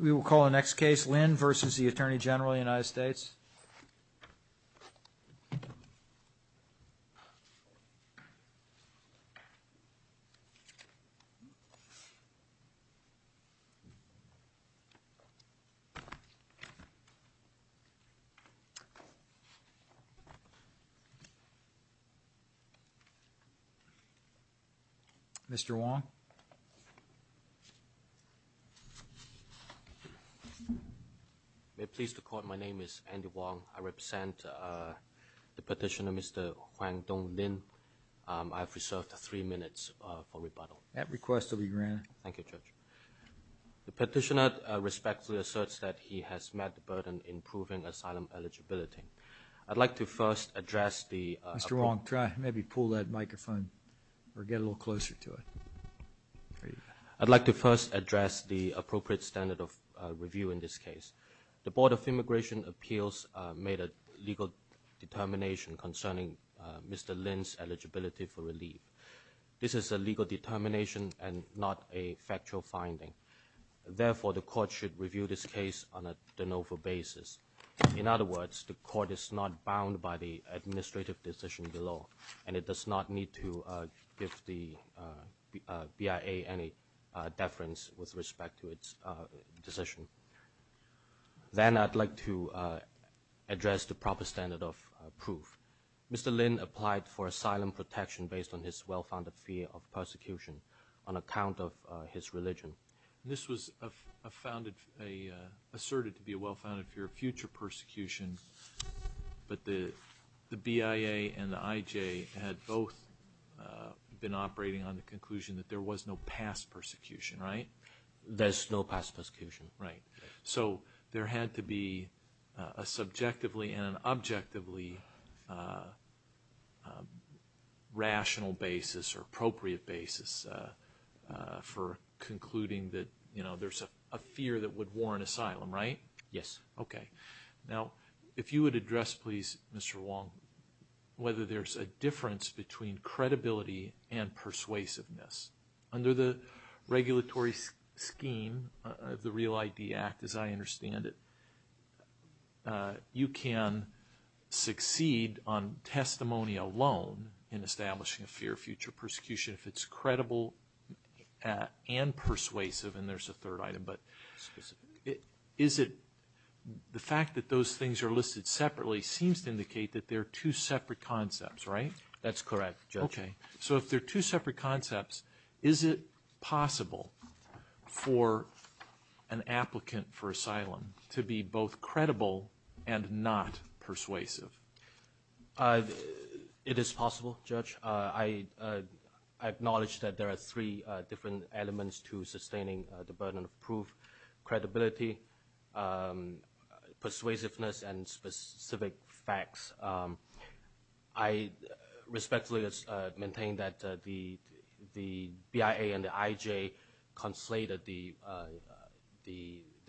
We will call the next case, Lynn v. Atty Gen USA. Mr. Wong. May it please the Court, my name is Andy Wong. I represent the petitioner, Mr. Huang Dong Lin. I have reserved three minutes for rebuttal. That request will be granted. Thank you, Judge. The petitioner respectfully asserts that he has met the burden in proving asylum eligibility. I'd like to first address the Mr. Wong, try, maybe pull that microphone or get a little closer to it. I'd like to first address the appropriate standard of review in this case. The Board of Immigration Appeals made a legal determination concerning Mr. Lin's eligibility for relief. This is a legal determination and not a factual finding. Therefore, the Court should review this case on a de novo basis. In other words, the Court is not bound by the administrative decision below and it does not need to give the BIA any deference with respect to its decision. Then I'd like to address the proper standard of proof. Mr. Lin applied for asylum protection based on his well-founded fear of persecution on account of his religion. This was asserted to be a well-founded fear of future persecution, but the BIA and the IJ had both been operating on the conclusion that there was no past persecution, right? There's no past persecution. So there had to be a subjectively and an objectively rational basis or appropriate basis for concluding that there's a fear that would warrant asylum, right? Yes. Okay. Now, if you would address please, Mr. Wong, whether there's a difference between credibility and persuasiveness. Under the regulatory scheme of the REAL ID Act, as I understand it, you can succeed on testimony alone in establishing a fear of future persecution if it's credible and persuasive. And there's a third item, but is it the fact that those things are listed separately seems to indicate that they're two separate concepts, right? That's correct, Judge. Okay. So if they're two separate concepts, is it possible for an applicant for asylum to be both credible and not persuasive? It is possible, Judge. I acknowledge that there are three different elements to sustaining the burden of proof, credibility, persuasiveness, and specific facts. I respectfully maintain that the BIA and the IJ conflated the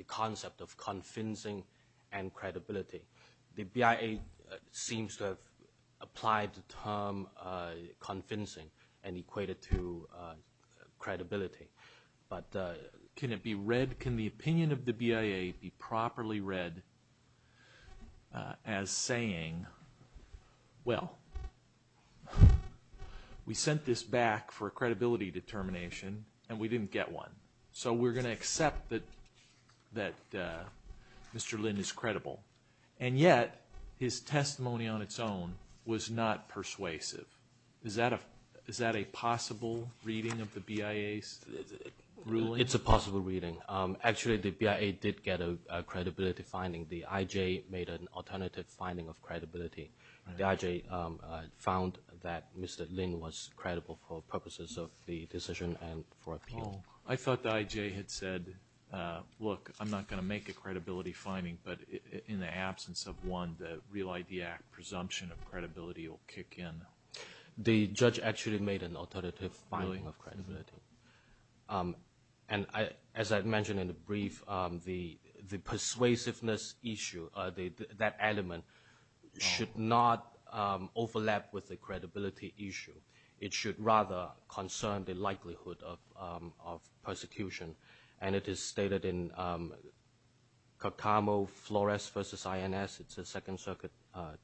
concept of convincing and credibility. The BIA seems to have applied the term convincing and equated to credibility. But can it be read, can the opinion of the BIA be properly read as saying, well, we sent this back for a credibility determination and we didn't get one. So we're going to accept that Mr. Lin is credible. And yet, his testimony on its own was not persuasive. Is that a possible reading of the BIA's ruling? It's a possible reading. Actually, the BIA did get a credibility finding. The IJ made an alternative finding of credibility. The IJ found that Mr. Lin was credible for purposes of the decision and for appeal. I thought the IJ had said, look, I'm not going to make a credibility finding. But in the absence of one, the Real ID Act presumption of credibility will kick in. The judge actually made an alternative finding of credibility. And as I mentioned in the brief, the persuasiveness issue, that element, should not overlap with the credibility issue. It should rather concern the likelihood of persecution. And it is stated in Cotamo Flores v. INS, it's a Second Circuit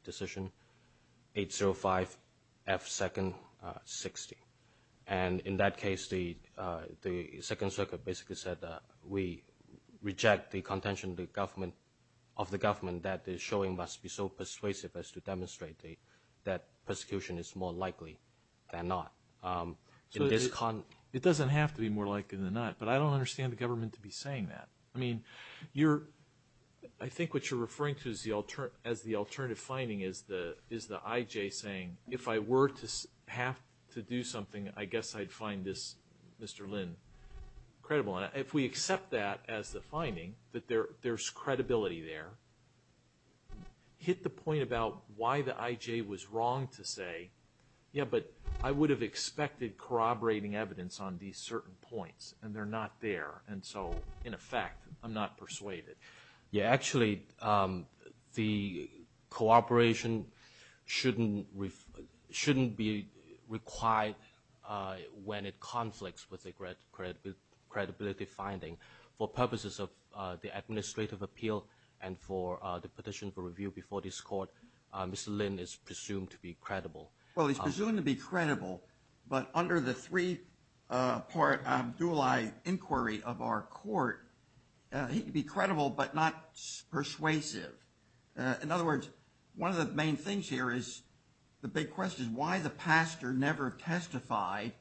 decision, 805F2-60. And in that case, the Second Circuit basically said we reject the contention of the government that the showing must be so persuasive as to demonstrate that persecution is more likely than not. It doesn't have to be more likely than not, but I don't understand the government to be saying that. I mean, I think what you're referring to as the alternative finding is the IJ saying, if I were to have to do something, I guess I'd find this Mr. Lin credible. And if we accept that as the finding, that there's credibility there, hit the point about why the IJ was wrong to say, yeah, but I would have expected corroborating evidence on these certain points, and they're not there. And so, in effect, I'm not persuaded. Yeah, actually, the cooperation shouldn't be required when it conflicts with a credibility finding. For purposes of the administrative appeal and for the petition for review before this court, Mr. Lin is presumed to be credible. Well, he's presumed to be credible, but under the three-part dual-eye inquiry of our court, he could be credible but not persuasive. In other words, one of the main things here is the big question, why the pastor never testified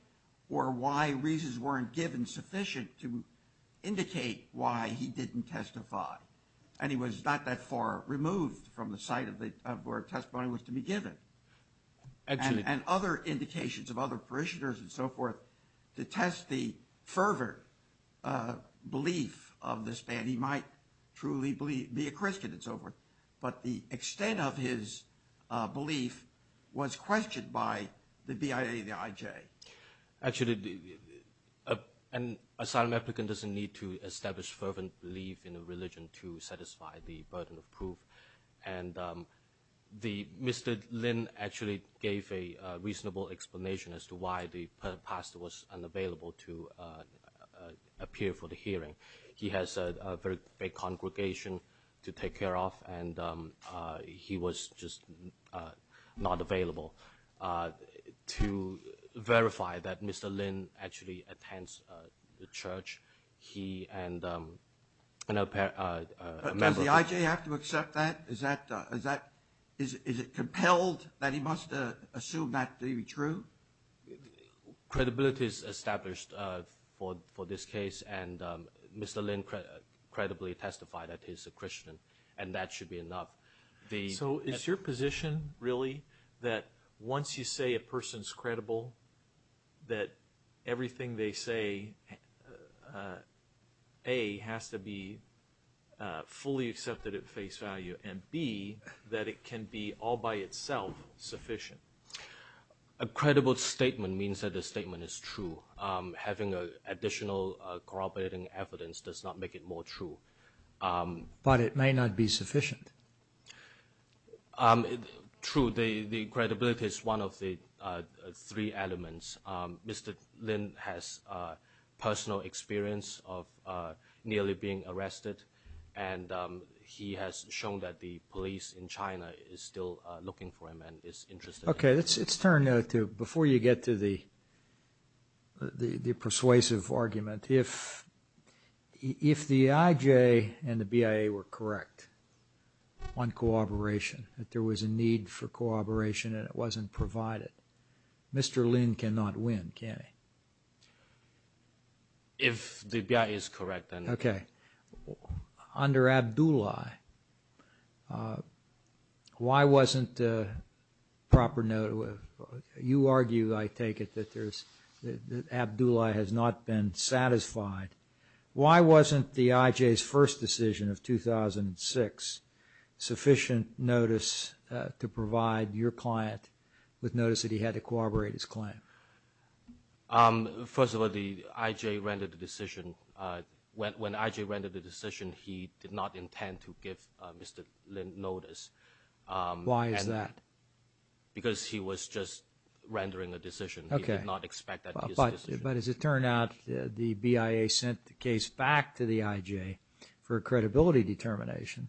or why reasons weren't given sufficient to indicate why he didn't testify. And he was not that far removed from the site of where testimony was to be given. And other indications of other parishioners and so forth to test the fervent belief of this man. He might truly be a Christian and so forth, but the extent of his belief was questioned by the BIA and the IJ. Actually, an asylum applicant doesn't need to establish fervent belief in a religion to satisfy the burden of proof. And Mr. Lin actually gave a reasonable explanation as to why the pastor was unavailable to appear for the hearing. He has a very big congregation to take care of, and he was just not available. To verify that Mr. Lin actually attends the church, he and a member of the church. Does he have to accept that? Is it compelled that he must assume that to be true? Credibility is established for this case, and Mr. Lin credibly testified that he's a Christian, and that should be enough. So is your position really that once you say a person's credible, that everything they say, A, has to be fully accepted at face value, and B, that it can be all by itself sufficient? A credible statement means that the statement is true. Having additional corroborating evidence does not make it more true. But it may not be sufficient. True, the credibility is one of the three elements. Mr. Lin has personal experience of nearly being arrested, and he has shown that the police in China is still looking for him and is interested. Okay, let's turn now to, before you get to the persuasive argument, if the IJ and the BIA were correct on corroboration, that there was a need for corroboration and it wasn't provided, Mr. Lin cannot win, can he? If the BIA is correct, then. Okay. Under Abdullahi, why wasn't a proper note of, you argue, I take it, that Abdullahi has not been satisfied. Why wasn't the IJ's first decision of 2006 sufficient notice to provide your client with notice that he had to corroborate his claim? First of all, the IJ rendered the decision. When IJ rendered the decision, he did not intend to give Mr. Lin notice. Why is that? Because he was just rendering a decision. Okay. He did not expect that decision. But as it turned out, the BIA sent the case back to the IJ for a credibility determination.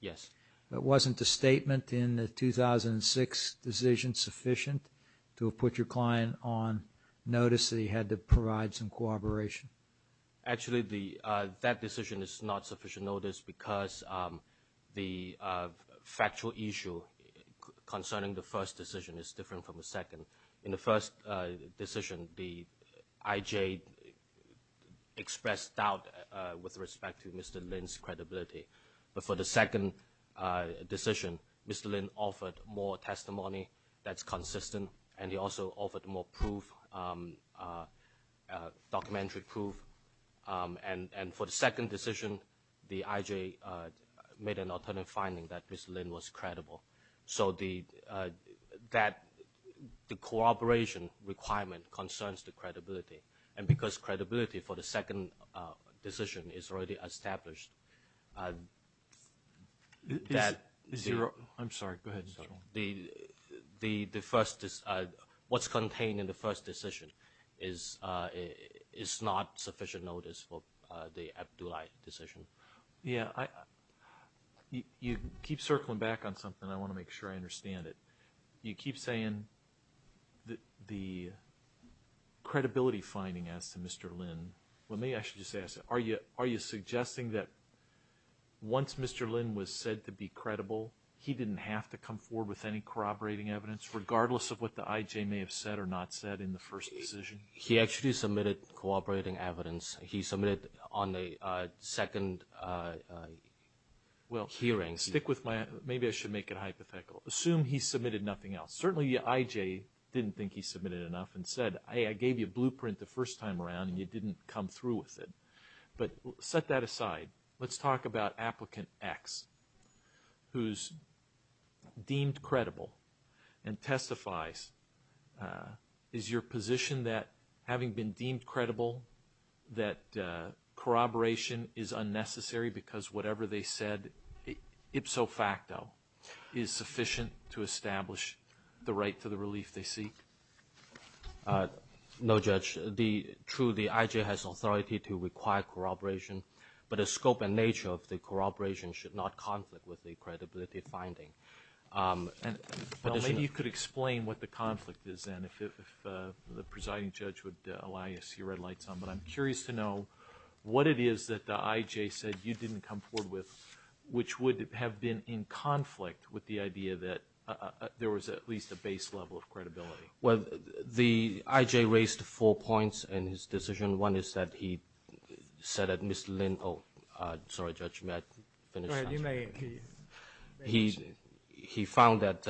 Yes. But wasn't the statement in the 2006 decision sufficient to put your client on notice that he had to provide some corroboration? Actually, that decision is not sufficient notice because the factual issue concerning the first decision is different from the second. In the first decision, the IJ expressed doubt with respect to Mr. Lin's credibility. But for the second decision, Mr. Lin offered more testimony that's consistent, and he also offered more proof, documentary proof. And for the second decision, the IJ made an alternative finding that Mr. Lin was credible. So the corroboration requirement concerns the credibility. And because credibility for the second decision is already established, that is zero. I'm sorry. Go ahead. What's contained in the first decision is not sufficient notice for the Abdulai decision. Yeah, you keep circling back on something. I want to make sure I understand it. You keep saying the credibility finding as to Mr. Lin. Let me actually just ask, are you suggesting that once Mr. Lin was said to be credible, he didn't have to come forward with any corroborating evidence, regardless of what the IJ may have said or not said in the first decision? He actually submitted corroborating evidence. He submitted on a second hearing. Well, stick with my idea. Maybe I should make it hypothetical. Assume he submitted nothing else. Certainly the IJ didn't think he submitted enough and said, I gave you a blueprint the first time around and you didn't come through with it. But set that aside. Let's talk about Applicant X, who's deemed credible and testifies, is your position that having been deemed credible, that corroboration is unnecessary because whatever they said, ipso facto, is sufficient to establish the right to the relief they seek? No, Judge. True, the IJ has authority to require corroboration, but the scope and nature of the corroboration should not conflict with the credibility finding. Maybe you could explain what the conflict is then, if the presiding judge would allow you to see your red lights on, but I'm curious to know what it is that the IJ said you didn't come forward with, which would have been in conflict with the idea that there was at least a base level of credibility. Well, the IJ raised four points in his decision. One is that he said that Mr. Lin, oh, sorry, Judge, may I finish? Go ahead, you may. He found that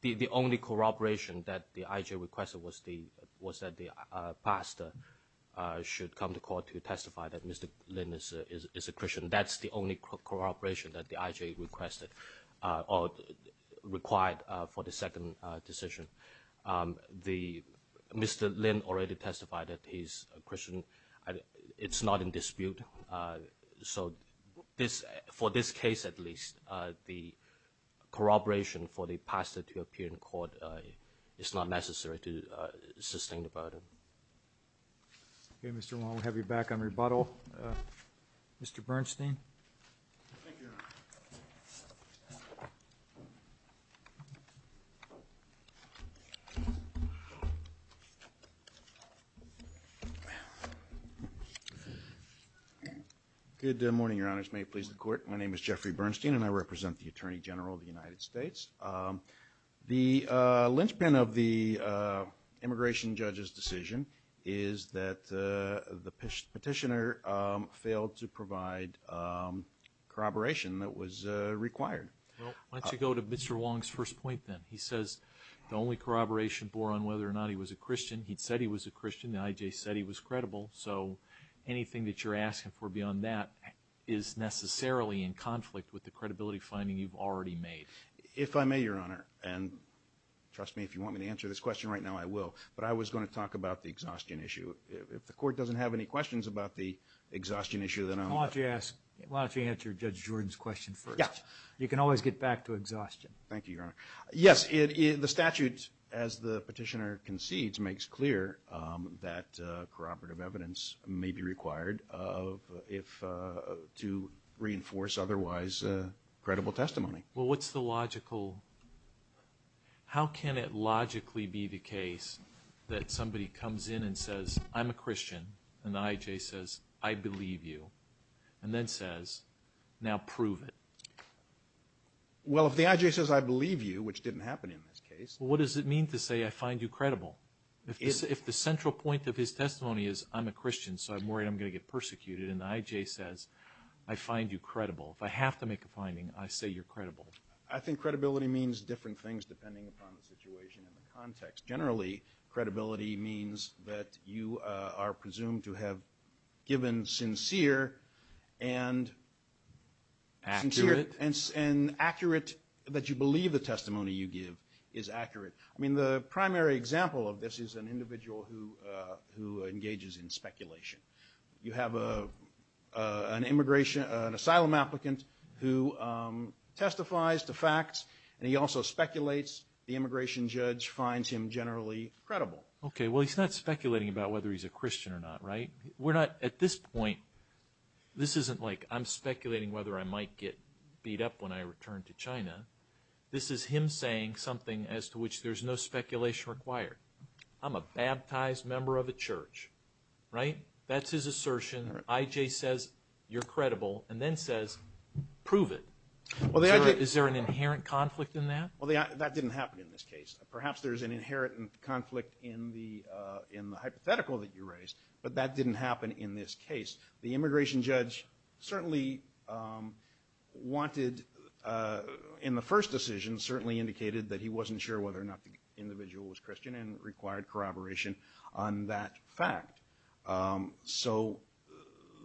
the only corroboration that the IJ requested was that the pastor should come to court to testify that Mr. Lin is a Christian. That's the only corroboration that the IJ requested, or required for the second decision. Mr. Lin already testified that he's a Christian. It's not in dispute. So for this case at least, the corroboration for the pastor to appear in court is not necessary to sustain the burden. Okay, Mr. Wong, we'll have you back on rebuttal. Mr. Bernstein. Thank you, Your Honor. Good morning, Your Honors. May it please the Court. My name is Jeffrey Bernstein, and I represent the Attorney General of the United States. The linchpin of the immigration judge's decision is that the petitioner failed to provide corroboration that was required. Why don't you go to Mr. Wong's first point then. He says the only corroboration bore on whether or not he was a Christian. He said he was a Christian. The IJ said he was credible. So anything that you're asking for beyond that is necessarily in conflict with the credibility finding you've already made. If I may, Your Honor, and trust me, if you want me to answer this question right now, I will, but I was going to talk about the exhaustion issue. If the Court doesn't have any questions about the exhaustion issue, You can always get back to exhaustion. Thank you, Your Honor. Yes, the statute, as the petitioner concedes, makes clear that corroborative evidence may be required to reinforce otherwise credible testimony. Well, what's the logical – how can it logically be the case that somebody comes in and says, I'm a Christian, and the IJ says, I believe you, and then says, now prove it? Well, if the IJ says, I believe you, which didn't happen in this case. Well, what does it mean to say, I find you credible? If the central point of his testimony is, I'm a Christian, so I'm worried I'm going to get persecuted, and the IJ says, I find you credible. If I have to make a finding, I say you're credible. I think credibility means different things depending upon the situation and the context. Generally, credibility means that you are presumed to have given sincere and accurate – that you believe the testimony you give is accurate. I mean, the primary example of this is an individual who engages in speculation. You have an asylum applicant who testifies to facts, and he also speculates. The immigration judge finds him generally credible. Okay, well, he's not speculating about whether he's a Christian or not, right? We're not – at this point, this isn't like I'm speculating whether I might get beat up when I return to China. This is him saying something as to which there's no speculation required. I'm a baptized member of a church, right? That's his assertion. IJ says, you're credible, and then says, prove it. Is there an inherent conflict in that? Well, that didn't happen in this case. Perhaps there's an inherent conflict in the hypothetical that you raised, but that didn't happen in this case. The immigration judge certainly wanted, in the first decision, certainly indicated that he wasn't sure whether or not the individual was Christian and required corroboration on that fact. So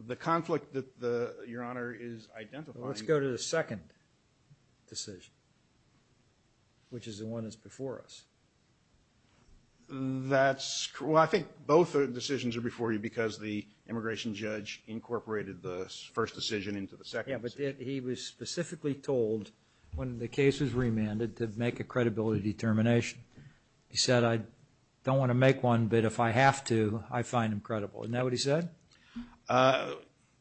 the conflict that Your Honor is identifying – Let's go to the second decision, which is the one that's before us. That's – well, I think both decisions are before you because the immigration judge incorporated the first decision into the second decision. Yeah, but he was specifically told, when the case was remanded, to make a credibility determination. He said, I don't want to make one, but if I have to, I find him credible. Isn't that what he said?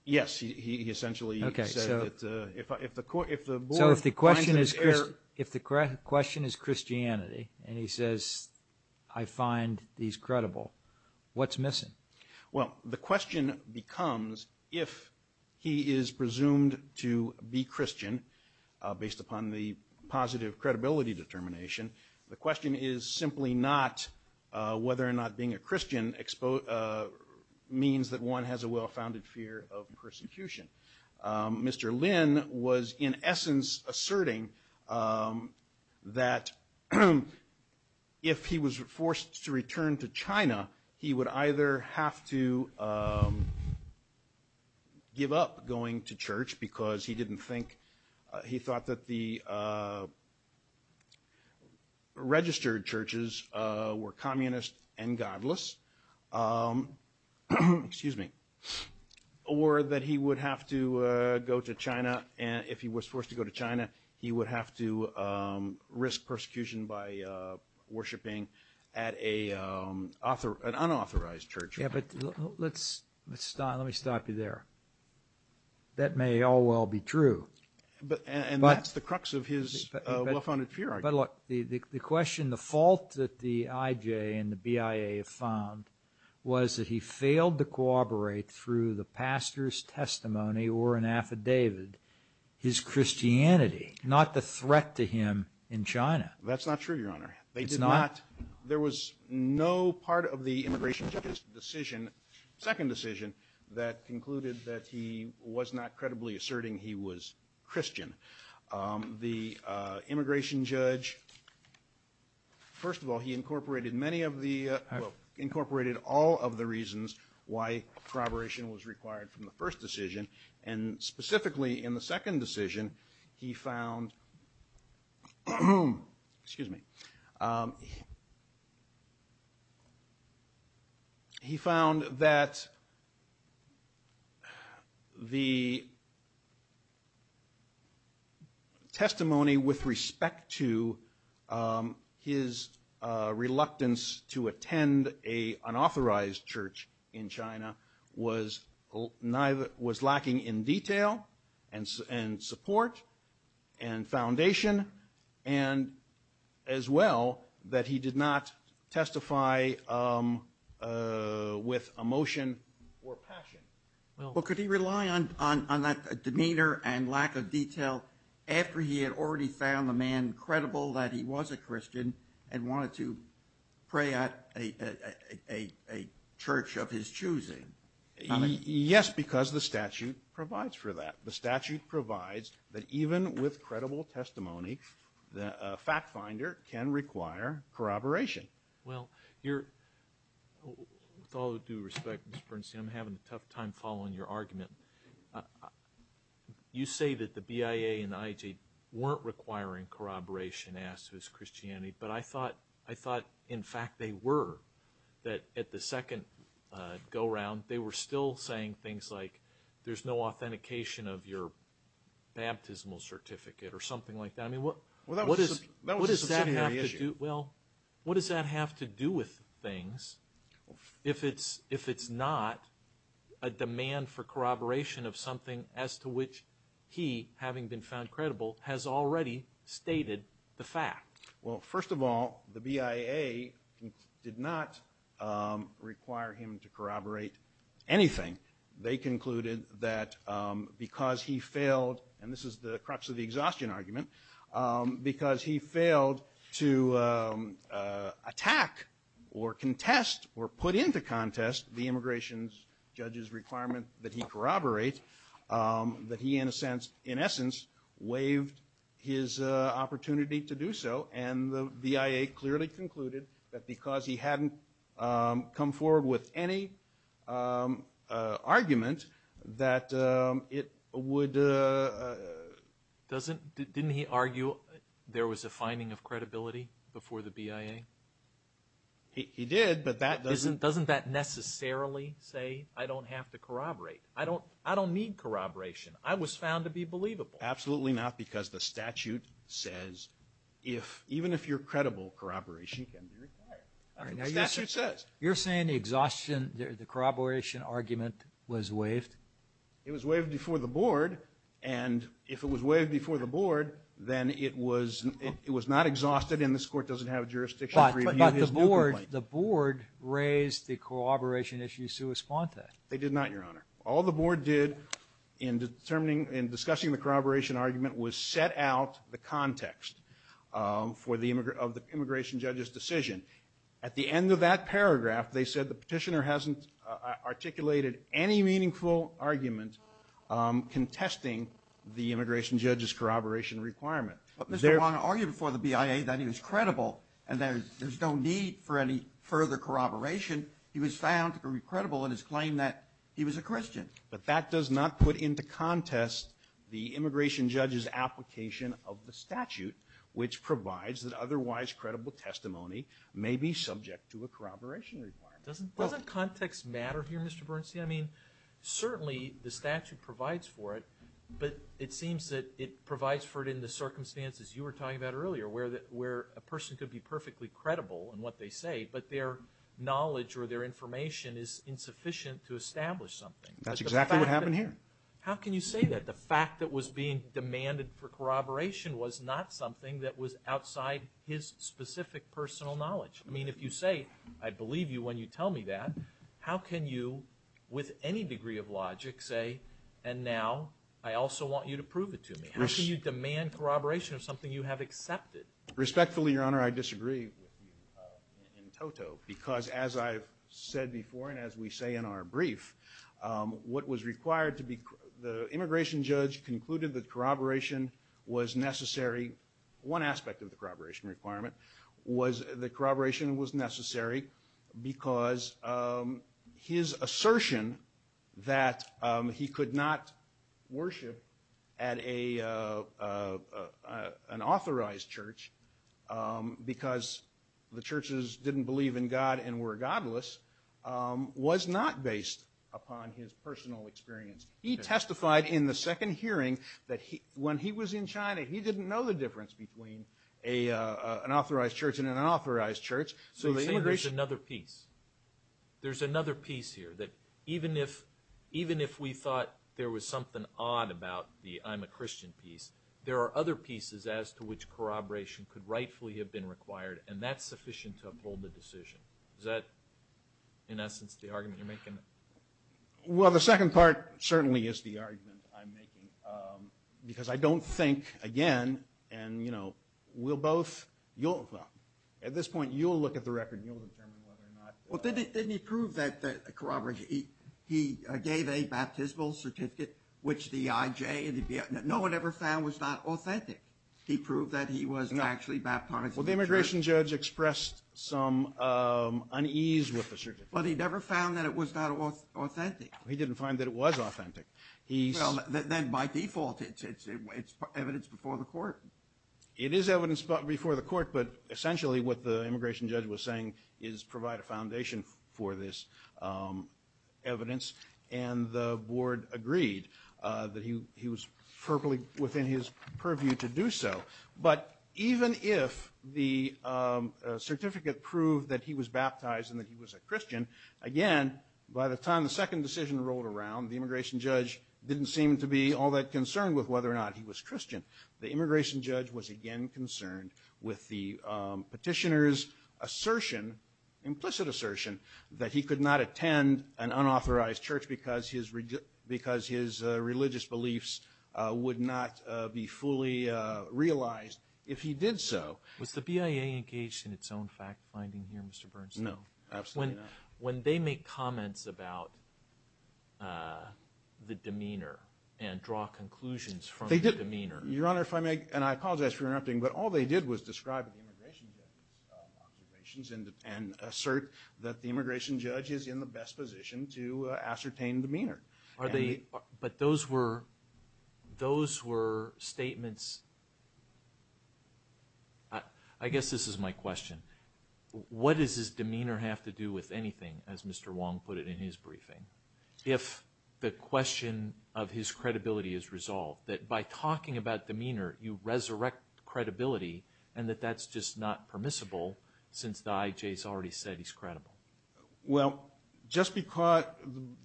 Yes, he essentially said that if the board finds him – So if the question is Christianity, and he says, I find these credible, what's missing? Well, the question becomes, if he is presumed to be Christian, based upon the positive credibility determination, the question is simply not whether or not being a Christian means that one has a well-founded fear of persecution. Mr. Lin was, in essence, asserting that if he was forced to return to China, he would either have to give up going to church because he didn't think – he thought that the registered churches were communist and godless – that if he was forced to go to China, he would have to risk persecution by worshiping at an unauthorized church. Yeah, but let me stop you there. That may all well be true. And that's the crux of his well-founded fear, I guess. But look, the question, the fault that the IJ and the BIA found was that he failed to corroborate through the pastor's testimony or an affidavit his Christianity, not the threat to him in China. That's not true, Your Honor. It's not? There was no part of the immigration judge's decision, second decision, that concluded that he was not credibly asserting he was Christian. The immigration judge, first of all, he incorporated many of the – well, incorporated all of the reasons why corroboration was required from the first decision. And specifically in the second decision, he found – excuse me. He found that the testimony with respect to his reluctance to attend an unauthorized church in China was lacking in detail and support and foundation, and as well that he did not testify with emotion or passion. Well, could he rely on that demeanor and lack of detail after he had already found the man credible that he was a Christian and wanted to pray at a church of his choosing? Yes, because the statute provides for that. The statute provides that even with credible testimony, a fact finder can require corroboration. Well, you're – with all due respect, Mr. Bernstein, I'm having a tough time following your argument. You say that the BIA and the IJ weren't requiring corroboration as to his Christianity, but I thought in fact they were. That at the second go-round, they were still saying things like there's no authentication of your baptismal certificate or something like that. I mean, what does that have to do – Well, that was a subsidiary issue. if it's not a demand for corroboration of something as to which he, having been found credible, has already stated the fact? Well, first of all, the BIA did not require him to corroborate anything. They concluded that because he failed – and this is the crux of the exhaustion argument – because he failed to attack or contest or put into contest the immigration judge's requirement that he corroborate, that he in a sense, in essence, waived his opportunity to do so. And the BIA clearly concluded that because he hadn't come forward with any argument, that it would – Didn't he argue there was a finding of credibility before the BIA? He did, but that doesn't – Doesn't that necessarily say I don't have to corroborate? I don't need corroboration. I was found to be believable. Absolutely not, because the statute says even if you're credible, corroboration can be required. The statute says. You're saying the corroboration argument was waived? It was waived before the board, and if it was waived before the board, then it was not exhausted, and this court doesn't have jurisdiction to review his new complaint. But the board raised the corroboration issue sua sponte. They did not, Your Honor. All the board did in discussing the corroboration argument was set out the context of the immigration judge's decision. At the end of that paragraph, they said the petitioner hasn't articulated any meaningful argument contesting the immigration judge's corroboration requirement. But Mr. O'Rourke argued before the BIA that he was credible and there's no need for any further corroboration. He was found to be credible in his claim that he was a Christian. But that does not put into contest the immigration judge's application of the statute, which provides that otherwise credible testimony may be subject to a corroboration requirement. Doesn't context matter here, Mr. Bernstein? I mean, certainly the statute provides for it, but it seems that it provides for it in the circumstances you were talking about earlier where a person could be perfectly credible in what they say, but their knowledge or their information is insufficient to establish something. That's exactly what happened here. How can you say that? The fact that was being demanded for corroboration was not something that was outside his specific personal knowledge. I mean, if you say, I believe you when you tell me that, how can you with any degree of logic say, and now I also want you to prove it to me? How can you demand corroboration of something you have accepted? Respectfully, Your Honor, I disagree with you in toto because as I've said before and as we say in our brief, what was required to be the immigration judge concluded that corroboration was necessary. One aspect of the corroboration requirement was that corroboration was necessary because his assertion that he could not worship at an authorized church because the churches didn't believe in God and were godless was not based upon his personal experience. He testified in the second hearing that when he was in China, he didn't know the difference between an authorized church and an unauthorized church. So there's another piece. There's another piece here that even if we thought there was something odd about the I'm a Christian piece, there are other pieces as to which corroboration could rightfully have been required, and that's sufficient to uphold the decision. Is that, in essence, the argument you're making? Well, the second part certainly is the argument I'm making because I don't think, again, and, you know, we'll both, well, at this point you'll look at the record and you'll determine whether or not. Well, didn't he prove that corroboration, he gave a baptismal certificate which the IJ, no one ever found was not authentic. He proved that he was actually baptized. Well, the immigration judge expressed some unease with the certificate. But he never found that it was not authentic. He didn't find that it was authentic. Well, then by default it's evidence before the court. It is evidence before the court, but essentially what the immigration judge was saying is provide a foundation for this evidence, and the board agreed that he was perfectly within his purview to do so. But even if the certificate proved that he was baptized and that he was a Christian, again, by the time the second decision rolled around, the immigration judge didn't seem to be all that concerned with whether or not he was Christian. The immigration judge was again concerned with the petitioner's assertion, implicit assertion, that he could not attend an unauthorized church because his religious beliefs would not be fully realized if he did so. Was the BIA engaged in its own fact-finding here, Mr. Bernstein? No, absolutely not. When they make comments about the demeanor and draw conclusions from the demeanor— Your Honor, if I may, and I apologize for interrupting, but all they did was describe the immigration judge's observations and assert that the immigration judge is in the best position to ascertain demeanor. But those were statements—I guess this is my question. What does his demeanor have to do with anything, as Mr. Wong put it in his briefing, if the question of his credibility is resolved, that by talking about demeanor you resurrect credibility and that that's just not permissible since the IJ has already said he's credible? Well, just because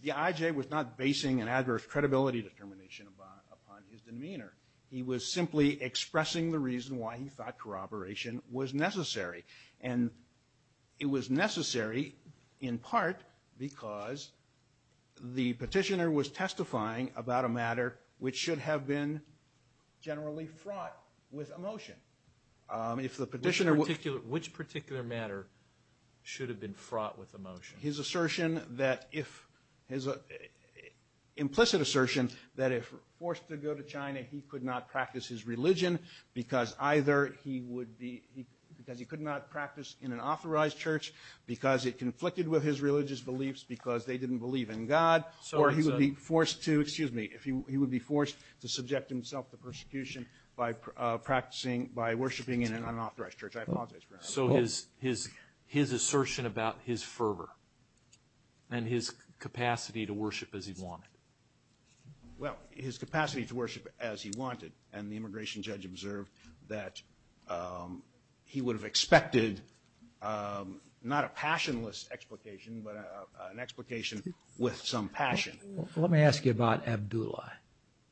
the IJ was not basing an adverse credibility determination upon his demeanor. He was simply expressing the reason why he thought corroboration was necessary. And it was necessary in part because the petitioner was testifying about a matter which should have been generally fraught with emotion. Which particular matter should have been fraught with emotion? His assertion that if—implicit assertion that if forced to go to China, he could not practice his religion because either he would be— because he could not practice in an authorized church because it conflicted with his religious beliefs because they didn't believe in God, or he would be forced to—excuse me, he would be forced to subject himself to persecution by practicing— by worshiping in an unauthorized church. I apologize for interrupting. So his assertion about his fervor and his capacity to worship as he wanted. Well, his capacity to worship as he wanted, and the immigration judge observed that he would have expected not a passionless explication, but an explication with some passion. Let me ask you about Abdullah.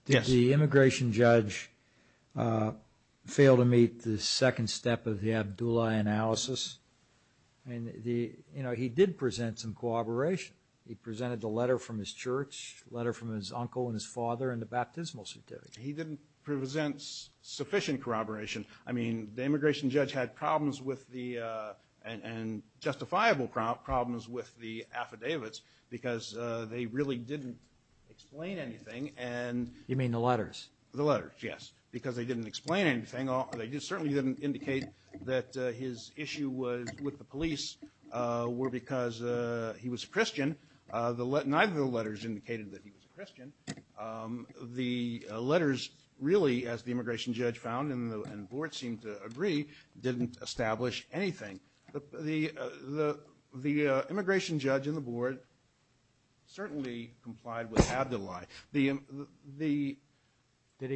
Yes. The immigration judge failed to meet the second step of the Abdullah analysis. You know, he did present some corroboration. He presented the letter from his church, the letter from his uncle and his father, and the baptismal certificate. He didn't present sufficient corroboration. I mean, the immigration judge had problems with the— and justifiable problems with the affidavits because they really didn't explain anything. You mean the letters? The letters, yes, because they didn't explain anything. They certainly didn't indicate that his issue with the police were because he was a Christian. Neither of the letters indicated that he was a Christian. The letters really, as the immigration judge found and the board seemed to agree, didn't establish anything. The immigration judge and the board certainly complied with Abdullah. Did he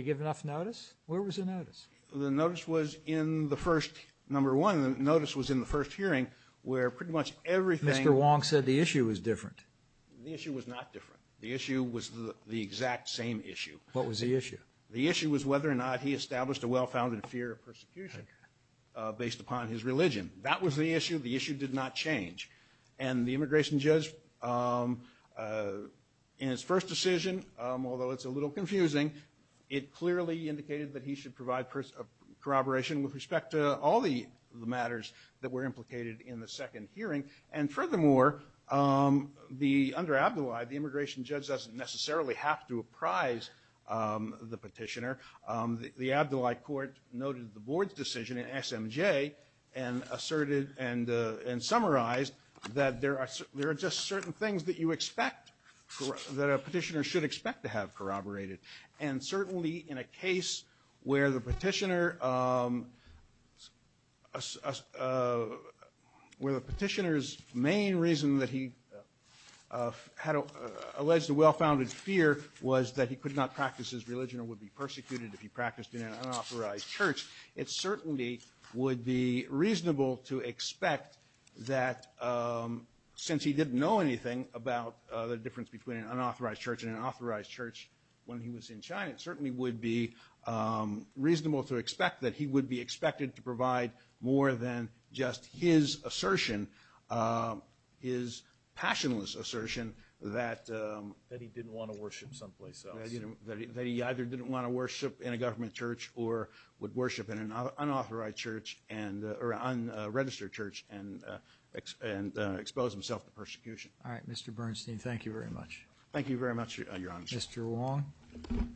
give enough notice? Where was the notice? The notice was in the first—number one, the notice was in the first hearing where pretty much everything— Mr. Wong said the issue was different. The issue was not different. The issue was the exact same issue. What was the issue? The issue was whether or not he established a well-founded fear of persecution based upon his religion. That was the issue. The issue did not change. And the immigration judge in his first decision, although it's a little confusing, it clearly indicated that he should provide corroboration with respect to all the matters that were implicated in the second hearing. And furthermore, under Abdullah, the immigration judge doesn't necessarily have to apprise the petitioner. The Abdullah court noted the board's decision in SMJ and asserted and summarized that there are just certain things that you expect—that a petitioner should expect to have corroborated. And certainly in a case where the petitioner— where the petitioner's main reason that he had alleged a well-founded fear was that he could not practice his religion or would be persecuted if he practiced in an unauthorized church, it certainly would be reasonable to expect that since he didn't know anything about the difference between an unauthorized church and an authorized church when he was in China, it certainly would be reasonable to expect that he would be expected to provide more than just his assertion, his passionless assertion that— That he didn't want to worship someplace else. That he either didn't want to worship in a government church or would worship in an unauthorized church or unregistered church and expose himself to persecution. All right, Mr. Bernstein, thank you very much. Thank you very much, Your Honor. Mr. Wong. Mr. Wong.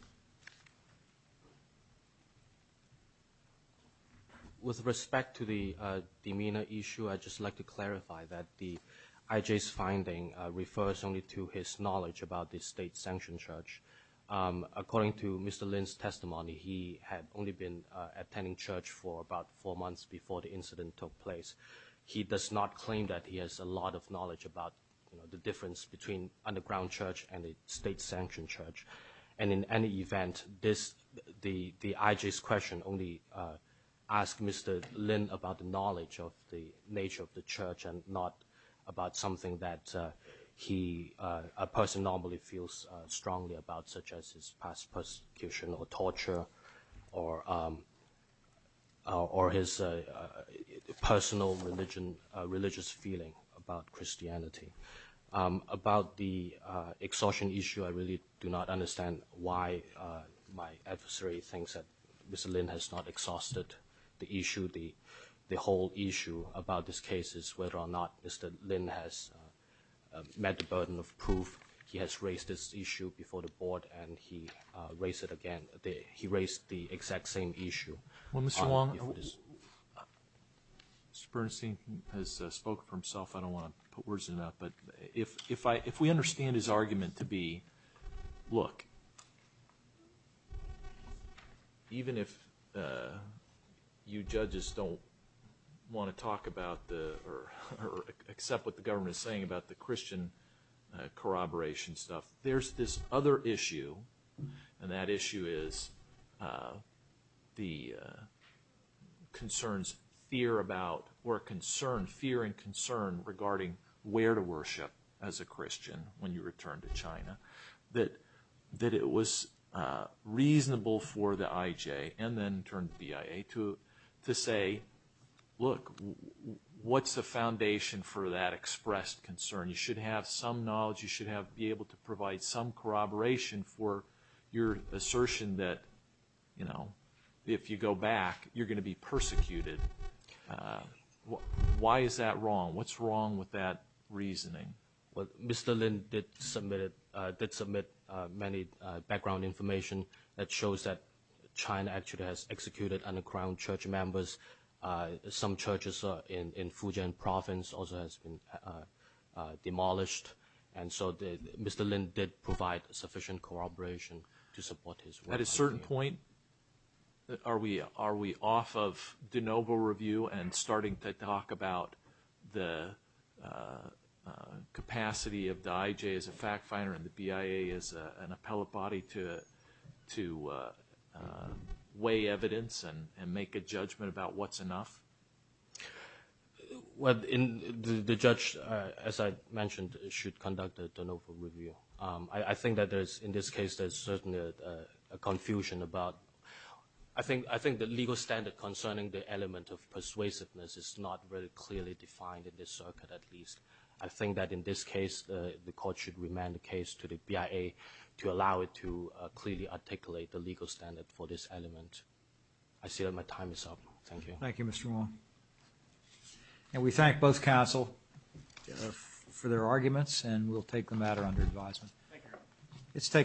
With respect to the demeanor issue, I'd just like to clarify that the IJ's finding refers only to his knowledge about the state-sanctioned church. According to Mr. Lin's testimony, he had only been attending church for about four months before the incident took place. He does not claim that he has a lot of knowledge about, you know, the difference between underground church and a state-sanctioned church. And in any event, the IJ's question only asked Mr. Lin about the knowledge of the nature of the church and not about something that a person normally feels strongly about, such as his past persecution or torture or his personal religious feeling about Christianity. About the exhaustion issue, I really do not understand why my adversary thinks that Mr. Lin has not exhausted the issue. The whole issue about this case is whether or not Mr. Lin has met the burden of proof. He has raised this issue before the board, and he raised it again. He raised the exact same issue. Well, Mr. Wong, Mr. Bernstein has spoken for himself. I don't want to put words in his mouth. But if we understand his argument to be, look, even if you judges don't want to talk about or accept what the government is saying about the Christian corroboration stuff, there's this other issue, and that issue is the concerns, fear and concern regarding where to worship as a Christian when you return to China, that it was reasonable for the IJ and then turned to the IA to say, look, what's the foundation for that expressed concern? You should have some knowledge. You should be able to provide some corroboration for your assertion that if you go back, you're going to be persecuted. Why is that wrong? What's wrong with that reasoning? Well, Mr. Lin did submit many background information that shows that China actually has executed under-crowned church members. Some churches in Fujian province also has been demolished. And so Mr. Lin did provide sufficient corroboration to support his work. At a certain point, are we off of de novo review and starting to talk about the capacity of the IJ as a fact finder and the BIA as an appellate body to weigh evidence and make a judgment about what's enough? Well, the judge, as I mentioned, should conduct a de novo review. I think that in this case there's certainly a confusion about – I think the legal standard concerning the element of persuasiveness is not very clearly defined in this circuit at least. I think that in this case the court should remand the case to the BIA to allow it to clearly articulate the legal standard for this element. I see that my time is up. Thank you. Thank you, Mr. Wong. And we thank both counsel for their arguments and we'll take the matter under advisement.